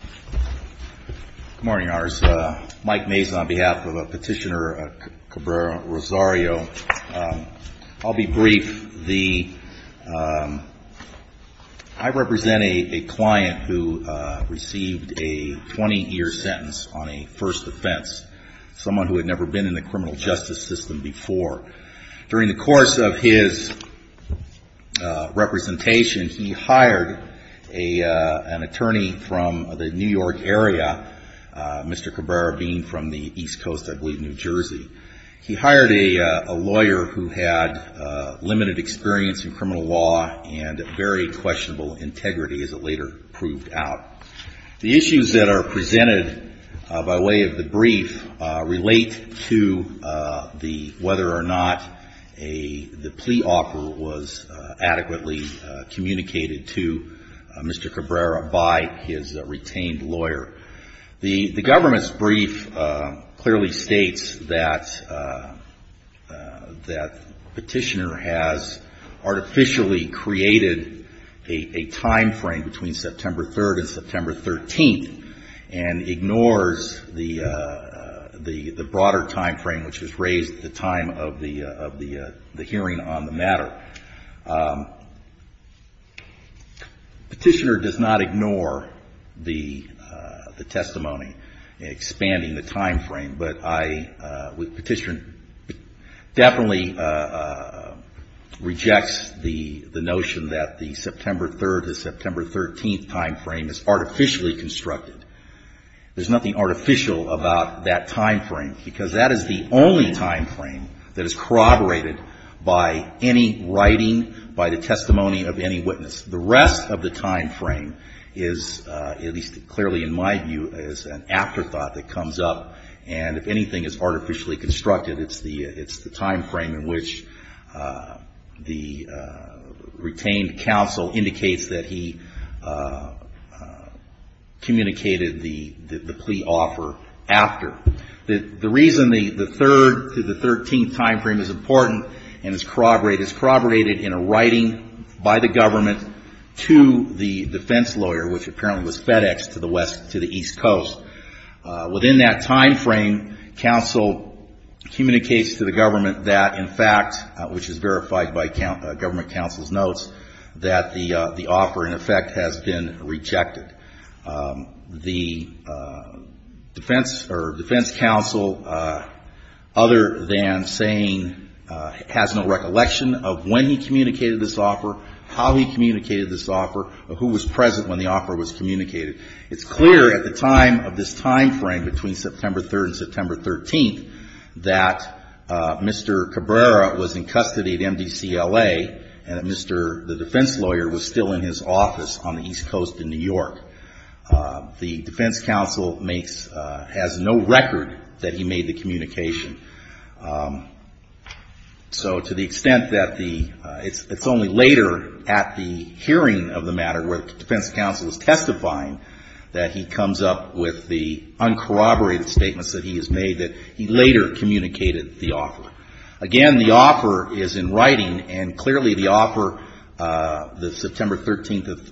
Good morning, Your Honors. Mike Mason on behalf of Petitioner Cabrera-Rosario. I'll be brief. I represent a client who received a 20-year sentence on a first offense. Someone who had never been in the criminal justice system before. During the course of his representation, he hired an attorney from the New York area, Mr. Cabrera being from the East Coast, I believe New Jersey. He hired a lawyer who had limited experience in criminal law and very questionable integrity as it later proved out. The issues that are presented by way of the brief relate to whether or not the plea offer was adequately communicated to Mr. Cabrera by his retained lawyer. The government's brief clearly states that Petitioner has artificially created a time frame between September 3rd and September 13th and ignores the broader time frame which was raised at the time of the hearing on the matter. Petitioner does not ignore the testimony expanding the time frame, but Petitioner definitely rejects the notion that the September 3rd to September 13th time frame is artificially constructed. There's nothing artificial about that time frame because that is the only time frame that is corroborated by any writing, by the testimony of any witness. The rest of the time frame is, at least clearly in my view, is an afterthought that comes up, and if anything is artificially constructed, it's the time frame in which the retained counsel indicates that he communicated the plea offer after. The reason the 3rd to the 13th time frame is important and is corroborated in a writing by the government to the defense lawyer, which apparently was FedExed to the east coast. Within that time frame, counsel communicates to the government that, in fact, which is verified by government counsel's notes, that the offer, in effect, has been rejected. The defense counsel, other than saying, has no recollection of when he communicated this offer, how he communicated this offer, who was present when the offer was communicated. It's clear at the time of this time frame between September 3rd and September 13th that Mr. Cabrera was in custody at MDCLA, and that Mr. the defense lawyer was still in his office on the east coast in New York. The defense counsel makes, has no record that he made the communication. So to the extent that the, it's only later at the hearing of the matter where the defense counsel is testifying that he comes up with the uncorroborated statements that he has made that he later communicated the offer. Again, the offer is in writing, and clearly the offer, the September 13th,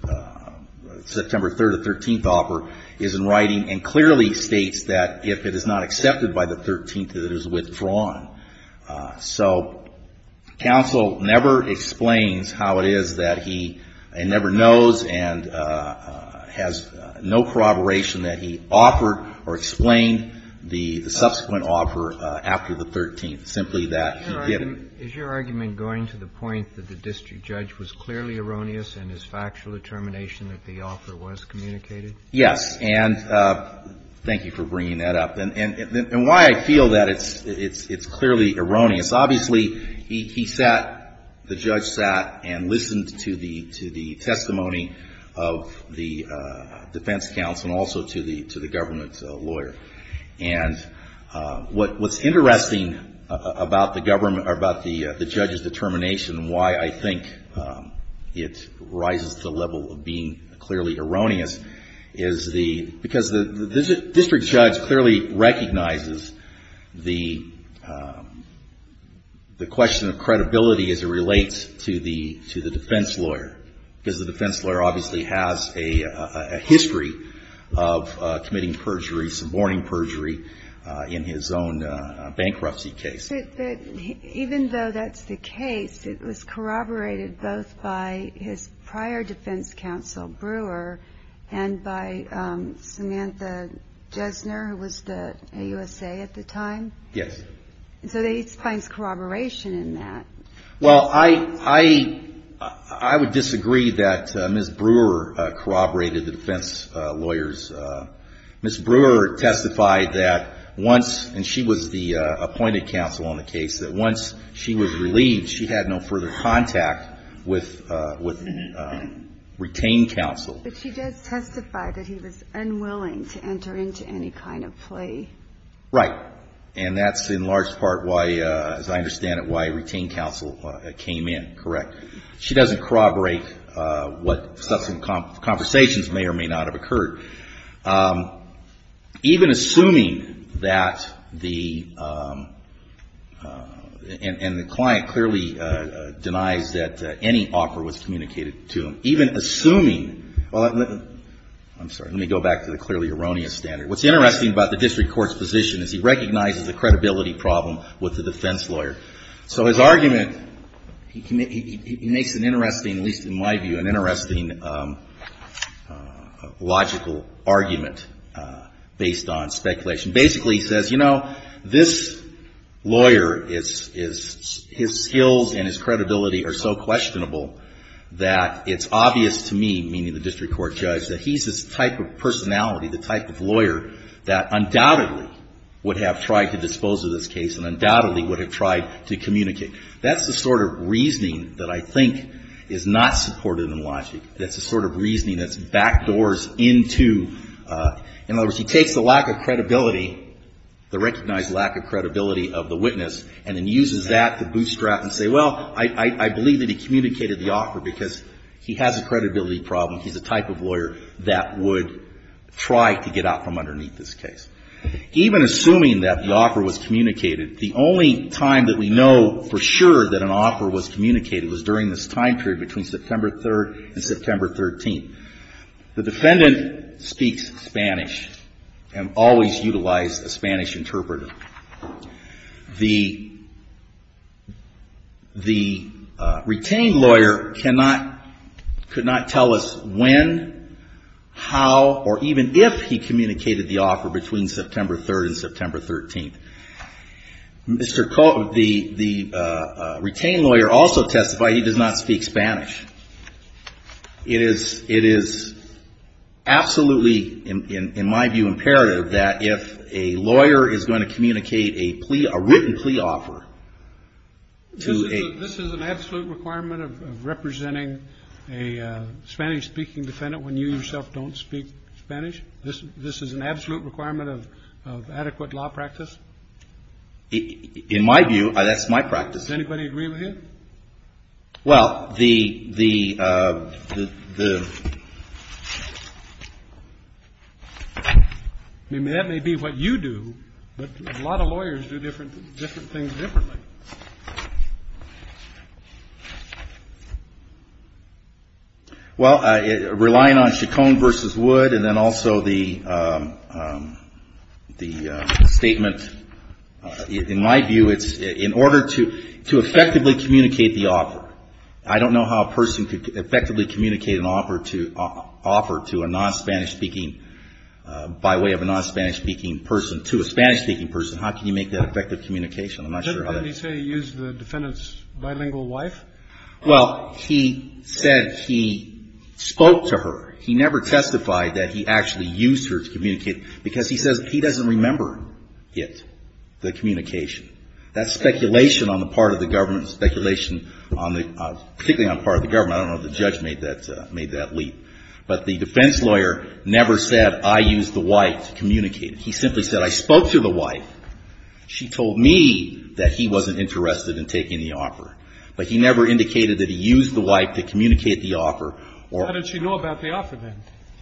September 3rd to 13th offer is in writing, and clearly states that if it is not accepted by the 13th that it is withdrawn. So counsel never explains how it is that he never knows and has no corroboration that he offered or explained the subsequent offer after the 13th, simply that he didn't. Is your argument going to the point that the district judge was clearly erroneous in his factual determination that the offer was communicated? Yes. And thank you for bringing that up. And why I feel that it's clearly erroneous, obviously he sat, the judge sat and listened to the testimony of the defense counsel and also to the government lawyer. And what's interesting about the government, about the judge's determination and why I think it rises to the level of being clearly erroneous is the, because the district judge clearly recognizes the question of credibility as it relates to the defense lawyer. Because the defense lawyer obviously has a history of committing perjury, suborning perjury in his own bankruptcy case. Even though that's the case, it was corroborated both by his prior defense counsel Brewer and by Samantha Jesner, who was the USA at the time? Yes. So he explains corroboration in that. Well, I would disagree that Ms. Brewer corroborated the defense lawyers. Ms. Brewer testified that once, and she was the appointed counsel on the case, that once she was relieved, she had no further contact with retained counsel. But she does testify that he was unwilling to enter into any kind of play. Right. And that's in large part why, as I understand it, why retained counsel came in. Correct. She doesn't corroborate what substantive conversations may or may not have occurred. Even assuming that the, and the client clearly denies that any offer was communicated to him. Even assuming, well, I'm sorry, let me go back to the clearly erroneous standard. What's interesting about the district court's position is he recognizes the credibility problem with the defense lawyer. So his argument, he makes an interesting, at least in my view, an interesting logical argument based on speculation. Basically he says, you know, this lawyer is, his skills and his credibility are so questionable that it's obvious to me, meaning the district court judge, that he's this type of personality, the type of lawyer that undoubtedly would have tried to dispose of this case and undoubtedly would have tried to communicate. That's the sort of reasoning that I think is not supported in logic. That's the sort of reasoning that's backdoors into, in other words, he takes the lack of credibility, the recognized lack of credibility of the witness, and then uses that to bootstrap and say, well, I believe that he communicated the offer because he has a credibility problem. He's the type of lawyer that would try to get out from underneath this case. Even assuming that the offer was communicated, the only time that we know for sure that an offer was communicated was during this time period between September 3rd and September 13th. The defendant speaks Spanish and always utilized a Spanish interpreter. The retained lawyer cannot, could not tell us when, how, or even if he communicated the offer between September 3rd and September 13th. The retained lawyer also testified he does not speak Spanish. It is, it is absolutely, in my view, imperative that if a lawyer is going to communicate a plea, a written plea offer to a- This is an absolute requirement of representing a Spanish-speaking defendant when you yourself don't speak Spanish? This is an absolute requirement of adequate law practice? In my view, that's my practice. Does anybody agree with you? Well, the, the, the- I mean, that may be what you do, but a lot of lawyers do different, different things differently. Well, relying on Chacon versus Wood and then also the, the statement, in my view, it's in order to, to effectively communicate the offer. I don't know how a person could effectively communicate an offer to, offer to a non-Spanish-speaking, by way of a non-Spanish-speaking person to a Spanish-speaking person. How can you make that effective communication? I'm not sure how that- Did he say he used the defendant's bilingual wife? Well, he said he spoke to her. He never testified that he actually used her to communicate, because he says he doesn't remember it, the communication. That's speculation on the part of the government, speculation on the, particularly on the part of the government. I don't know if the judge made that, made that leap. But the defense lawyer never said, I used the wife to communicate. He simply said, I spoke to the wife. She told me that he wasn't interested in taking the offer. But he never indicated that he used the wife to communicate the offer or-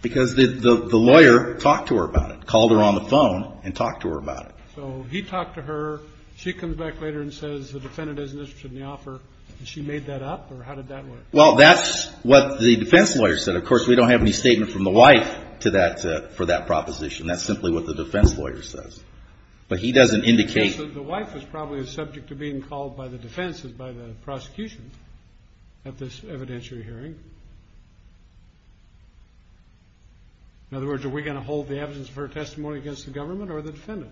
Because the lawyer talked to her about it, called her on the phone and talked to her about it. So he talked to her. She comes back later and says the defendant isn't interested in the offer. And she made that up? Or how did that work? Well, that's what the defense lawyer said. Of course, we don't have any statement from the wife to that, for that proposition. That's simply what the defense lawyer says. But he doesn't indicate- The wife was probably the subject of being called by the defense and by the prosecution at this evidentiary hearing. In other words, are we going to hold the evidence of her testimony against the government or the defendant?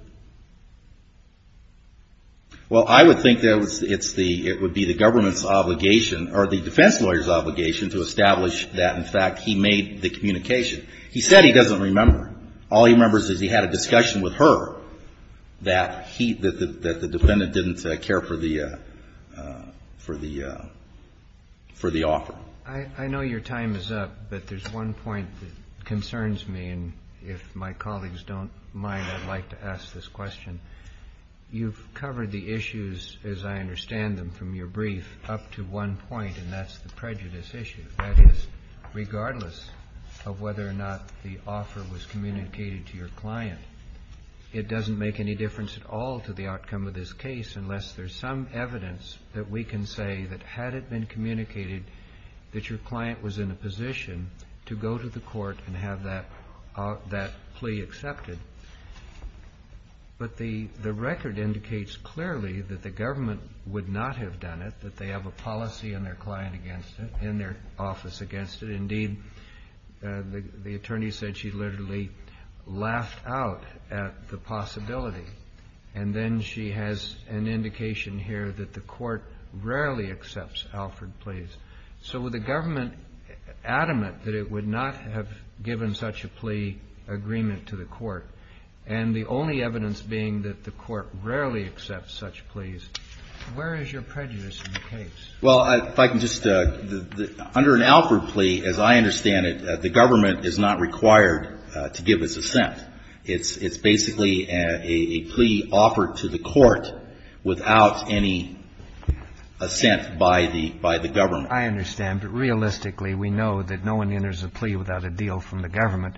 Well, I would think that it's the, it would be the government's obligation, or the defense lawyer's obligation, to establish that, in fact, he made the communication. He said he doesn't remember. All he remembers is he had a discussion with her that he, that the defendant didn't care for the, for the, for the offer. I know your time is up, but there's one point that concerns me. And if my colleagues don't mind, I'd like to ask this question. You've covered the issues, as I understand them from your brief, up to one point, and that's the prejudice issue. That is, regardless of whether or not the offer was communicated to your client, it doesn't make any difference at all to the outcome of this case unless there's some evidence that we can say that had it been communicated that your client was in a position to go to the court and have that, that plea accepted. But the, the record indicates clearly that the government would not have done it, that they have a policy in their client against it, in their office against it. Indeed, the, the attorney said she literally laughed out at the possibility. And then she has an indication here that the court rarely accepts Alford pleas. So would the government, adamant that it would not have given such a plea agreement to the court, and the only evidence being that the court rarely accepts such pleas, where is your prejudice in the case? Well, if I can just, under an Alford plea, as I understand it, the government is not required to give its assent. It's, it's basically a plea offered to the court without any assent by the, by the government. I understand, but realistically, we know that no one enters a plea without a deal from the government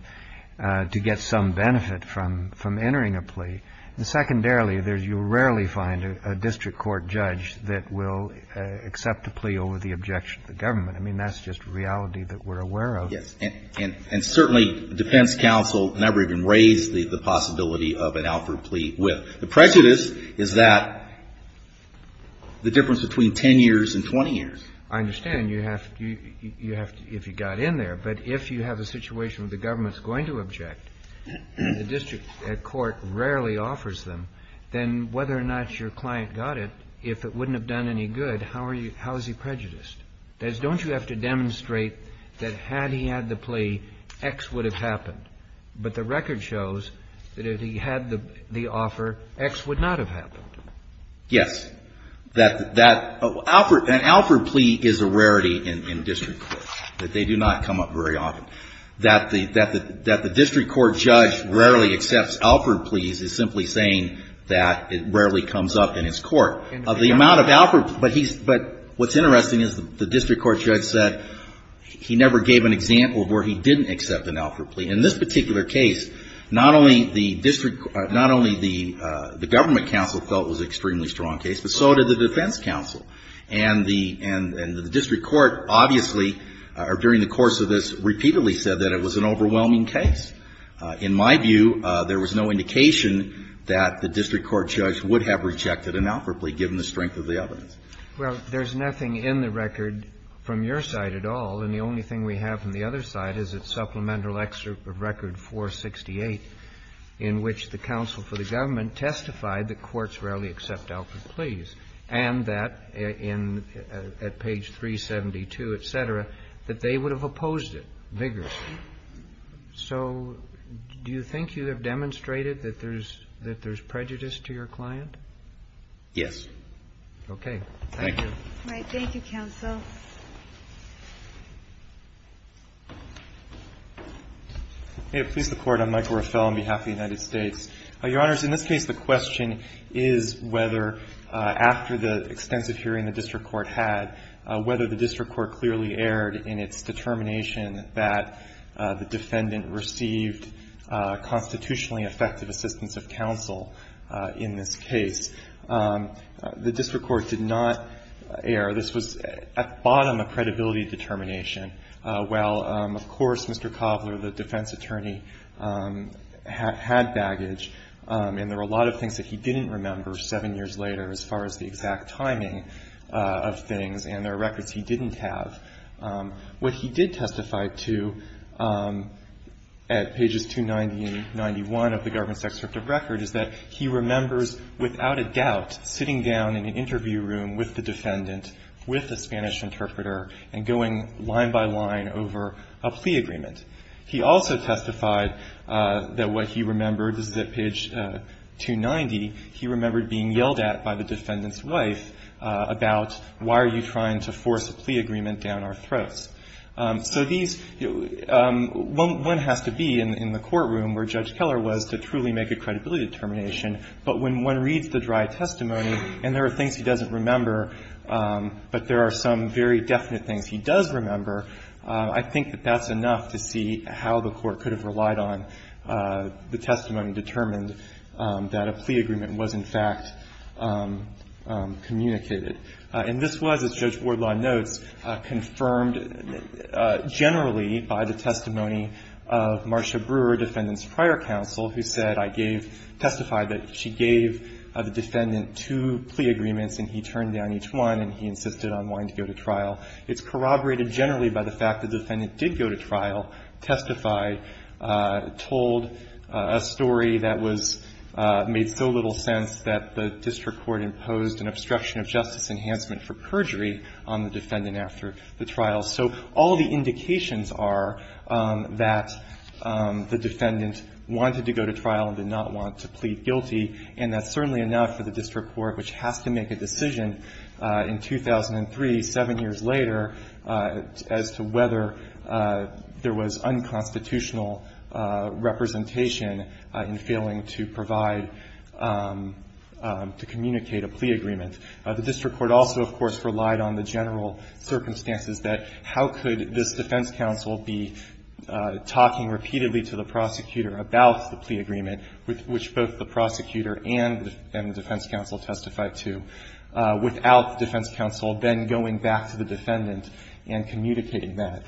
to get some benefit from, from entering a plea. And secondarily, there's, you rarely find a, a district court judge that will accept a plea over the objection of the government. I mean, that's just reality that we're aware of. Yes. And, and, and certainly defense counsel never even raised the, the possibility of an Alford plea with. The prejudice is that the difference between 10 years and 20 years. I understand you have to, you have to, if you got in there, but if you have a situation where the government's going to object, the district court rarely offers them, then whether or not your client got it, if it wouldn't have done any good, how are you, how is he prejudiced? That is, don't you have to demonstrate that had he had the plea, X would have happened. But the record shows that if he had the, the offer, X would not have happened. Yes. That, that offer, an Alford plea is a rarity in, in district court. That they do not come up very often. That the, that the, that the district court judge rarely accepts Alford pleas is simply saying that it rarely comes up in his court. Of the amount of Alford, but he's, but what's interesting is the district court judge said he never gave an example of where he didn't accept an Alford plea. In this particular case, not only the district, not only the, the government counsel felt it was an extremely strong case, but so did the defense counsel. And the, and, and the district court, obviously, during the course of this, repeatedly said that it was an overwhelming case. In my view, there was no indication that the district court judge would have rejected an Alford plea, given the strength of the evidence. Well, there's nothing in the record from your side at all. And the only thing we have from the other side is its supplemental record 468, in which the counsel for the government testified that courts rarely accept Alford pleas. And that in, at page 372, et cetera, that they would have opposed it vigorously. So do you think you have demonstrated that there's, that there's prejudice to your client? Yes. Okay. Thank you. Thank you, counsel. May it please the Court. I'm Michael Rafel on behalf of the United States. Your Honors, in this case, the question is whether, after the extensive hearing the district court had, whether the district court clearly erred in its determination that the defendant received constitutionally effective assistance of counsel in this case. The district court did not err. This was, at bottom, a credibility determination. While, of course, Mr. Cobler, the defense attorney, had baggage, and there were a lot of things that he didn't remember seven years later, as far as the exact timing of things, and there are records he didn't have. What he did testify to at pages 290 and 99 of the government's extractive record is that he remembers without a doubt sitting down in an interview room with the defendant with a Spanish interpreter and going line by line over a plea agreement. He also testified that what he remembered is that page 290, he remembered being yelled at by the defendant's wife about why are you trying to force a plea agreement down our throats. So these, one has to be in the courtroom where Judge Keller was to truly make a credibility determination, but when one reads the dry testimony and there are things he doesn't remember, but there are some very definite things he does remember, I think that that's enough to see how the court could have relied on the testimony determined that a plea agreement was, in fact, communicated. And this was, as Judge Wardlaw notes, confirmed generally by the testimony of Marcia Brewer, defendant's prior counsel, who said, I gave, testified that she gave the defendant two plea agreements and he turned down each one and he insisted on wanting to go to trial. It's corroborated generally by the fact the defendant did go to trial, testified, told a story that was, made so little sense that the district court imposed an obstruction of justice enhancement for perjury on the defendant after the trial. So all the indications are that the defendant wanted to go to trial and did not want to plead guilty and that's certainly enough for the district court, which has to make a decision in 2003, seven years later, as to whether there was unconstitutional representation in failing to provide, to communicate a plea agreement. The district court also, of course, relied on the general circumstances that how could this defense counsel be talking repeatedly to the prosecutor about the plea agreement, which both the prosecutor and the defense counsel testified to, without the defense counsel then going back to the defendant and communicating that.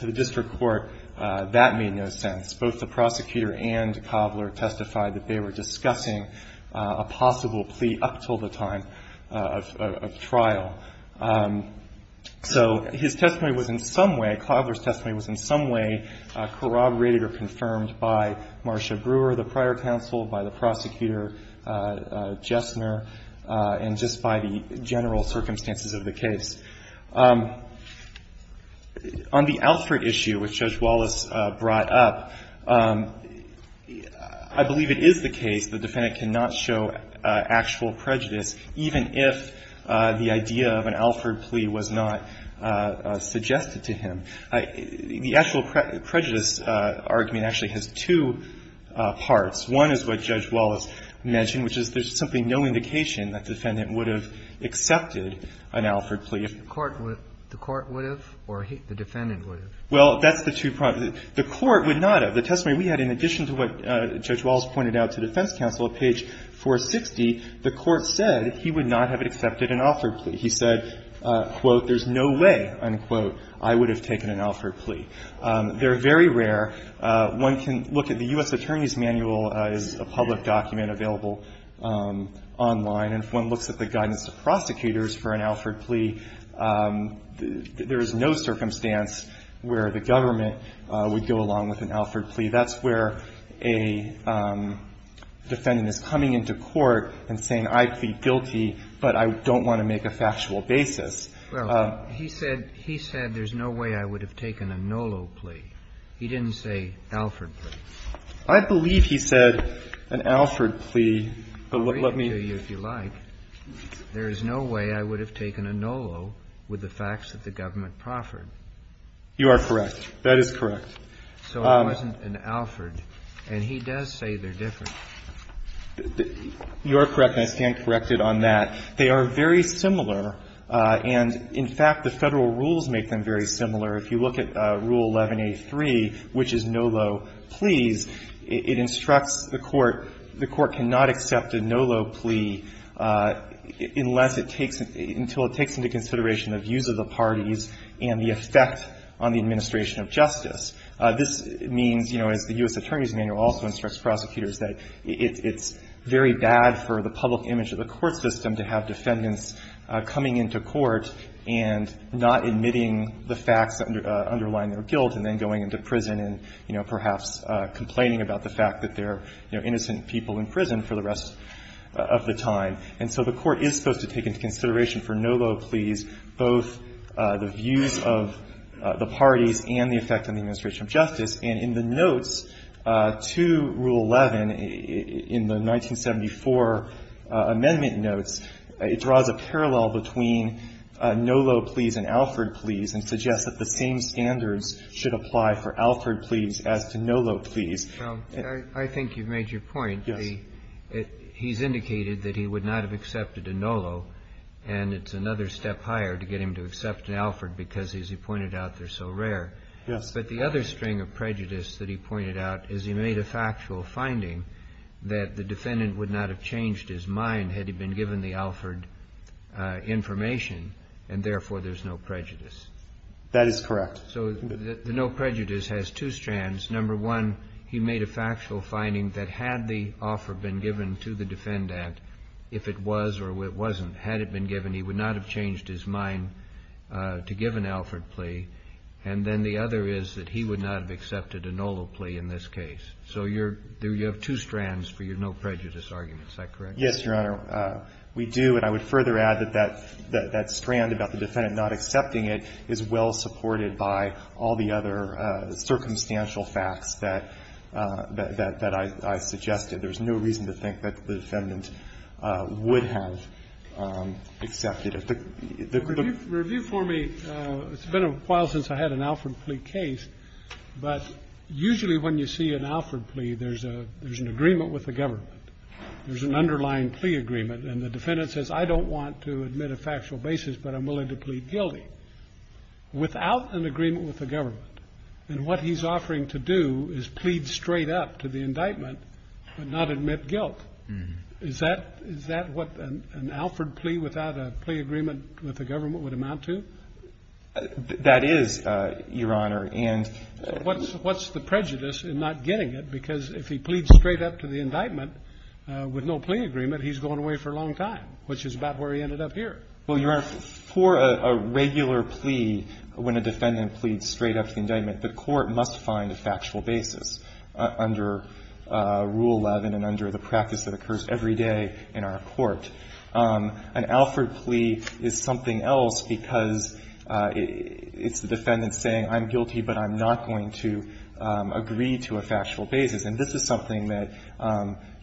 To the district court, that made no sense. Both the prosecutor and Cobbler testified that they were discussing a possible plea up until the time of trial. So his testimony was in some way, Cobbler's testimony was in some way corroborated or confirmed by Marcia Brewer, the prior counsel, by the prosecutor, Jessner, and just by the general circumstances of the case. On the Alford issue, which Judge Wallace brought up, I believe it is the case the defendant cannot show actual prejudice even if the idea of an Alford plea was not suggested to him. The actual prejudice argument actually has two parts. One is what Judge Wallace mentioned, which is there's simply no indication that the defendant would have accepted an Alford plea if the court would have or the defendant would have. Well, that's the two parts. The court would not have. The testimony we had, in addition to what Judge Wallace pointed out to defense counsel at page 460, the court said he would not have accepted an Alford plea. He said, quote, there's no way, unquote, I would have taken an Alford plea. They're very rare. One can look at the U.S. Attorney's Manual as a public document available online and one looks at the guidance of prosecutors for an Alford plea. There is no circumstance where the government would go along with an Alford plea. That's where a defendant is coming into court and saying, I plead guilty, but I don't want to make a factual basis. Well, he said, he said there's no way I would have taken a NOLO plea. He didn't say Alford plea. I believe he said an Alford plea, but let me. If you like, there is no way I would have taken a NOLO with the facts that the government proffered. You are correct. That is correct. So it wasn't an Alford. And he does say they're different. You are correct, and I stand corrected on that. They are very similar, and in fact, the Federal rules make them very similar. If you look at Rule 11a3, which is NOLO pleas, it instructs the court, the court cannot accept a NOLO plea unless it takes, until it takes into consideration the views of the parties and the effect on the administration of justice. This means, you know, as the U.S. Attorney's Manual also instructs prosecutors, that it's very bad for the public image of the court system to have defendants coming into court and not admitting the facts underlying their guilt and then going into prison and, you know, perhaps complaining about the fact that they're, you know, innocent people in prison for the rest of the time. And so the court is supposed to take into consideration for NOLO pleas both the views of the parties and the effect on the administration of justice. And in the notes to Rule 11 in the 1974 amendment notes, it draws a parallel between NOLO pleas and Alford pleas and suggests that the same standards should apply for Alford pleas as to NOLO pleas. Roberts. Well, I think you've made your point. He's indicated that he would not have accepted a NOLO, and it's another step higher to get him to accept an Alford because, as you pointed out, they're so rare. Yes. But the other string of prejudice that he pointed out is he made a factual finding that the defendant would not have changed his mind had he been given the Alford information, and therefore there's no prejudice. That is correct. So the no prejudice has two strands. Number one, he made a factual finding that had the offer been given to the defendant, if it was or it wasn't, had it been given, he would not have changed his mind to give an Alford plea. And then the other is that he would not have accepted a NOLO plea in this case. So you're – you have two strands for your no prejudice argument. Is that correct? Yes, Your Honor. We do, and I would further add that that strand about the defendant not accepting it is well supported by all the other circumstantial facts that – that I suggested. There's no reason to think that the defendant would have accepted it. Review for me, it's been a while since I had an Alford plea case, but usually when you see an Alford plea, there's a – there's an agreement with the government. There's an underlying plea agreement, and the defendant says, I don't want to admit a factual basis, but I'm willing to plead guilty, without an agreement with the government. And what he's offering to do is plead straight up to the indictment and not admit guilt. Is that – is that what an Alford plea without a plea agreement with the government would amount to? That is, Your Honor, and – What's the prejudice in not getting it? Because if he pleads straight up to the indictment with no plea agreement, he's going away for a long time, which is about where he ended up here. Well, Your Honor, for a regular plea, when a defendant pleads straight up to the indictment, the court must find a factual basis under Rule 11 and under the practice that occurs every day in our court. An Alford plea is something else because it's the defendant saying, I'm guilty, but I'm not going to agree to a factual basis. And this is something that,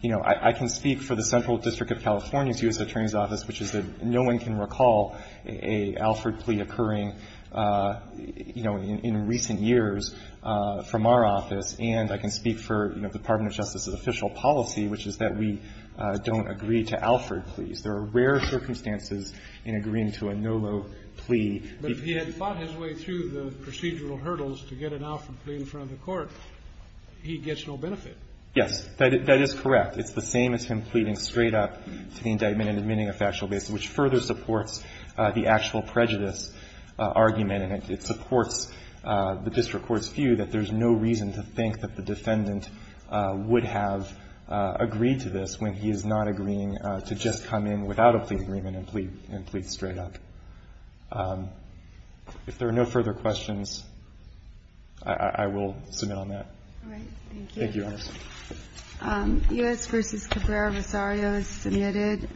you know, I can speak for the Central District of California's U.S. Attorney's Office, which is that no one can recall an Alford plea occurring, you know, in recent years from our office. And I can speak for, you know, the Department of Justice's official policy, which is that we don't agree to Alford pleas. There are rare circumstances in agreeing to a NOLO plea. But if he had fought his way through the procedural hurdles to get an Alford plea in front of the court, he gets no benefit. Yes. That is correct. It's the same as him pleading straight up to the indictment and admitting a factual basis, which further supports the actual prejudice argument, and it supports the district court's view that there's no reason to think that the defendant would have agreed to this when he is not agreeing to just come in without a plea agreement and plead straight up. If there are no further questions, I will submit on that. All right. Thank you. Thank you, Your Honor. U.S. v. Cabrera-Rosario is submitted.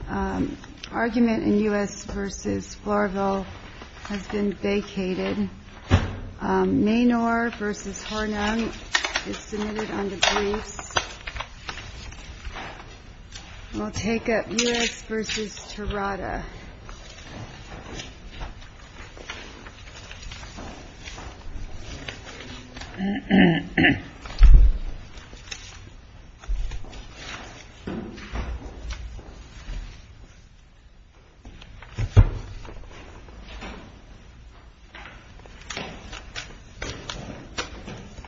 Argument in U.S. v. Florville has been vacated. Maynor v. Hornung is submitted on the briefs. We'll take up U.S. v. Tirada.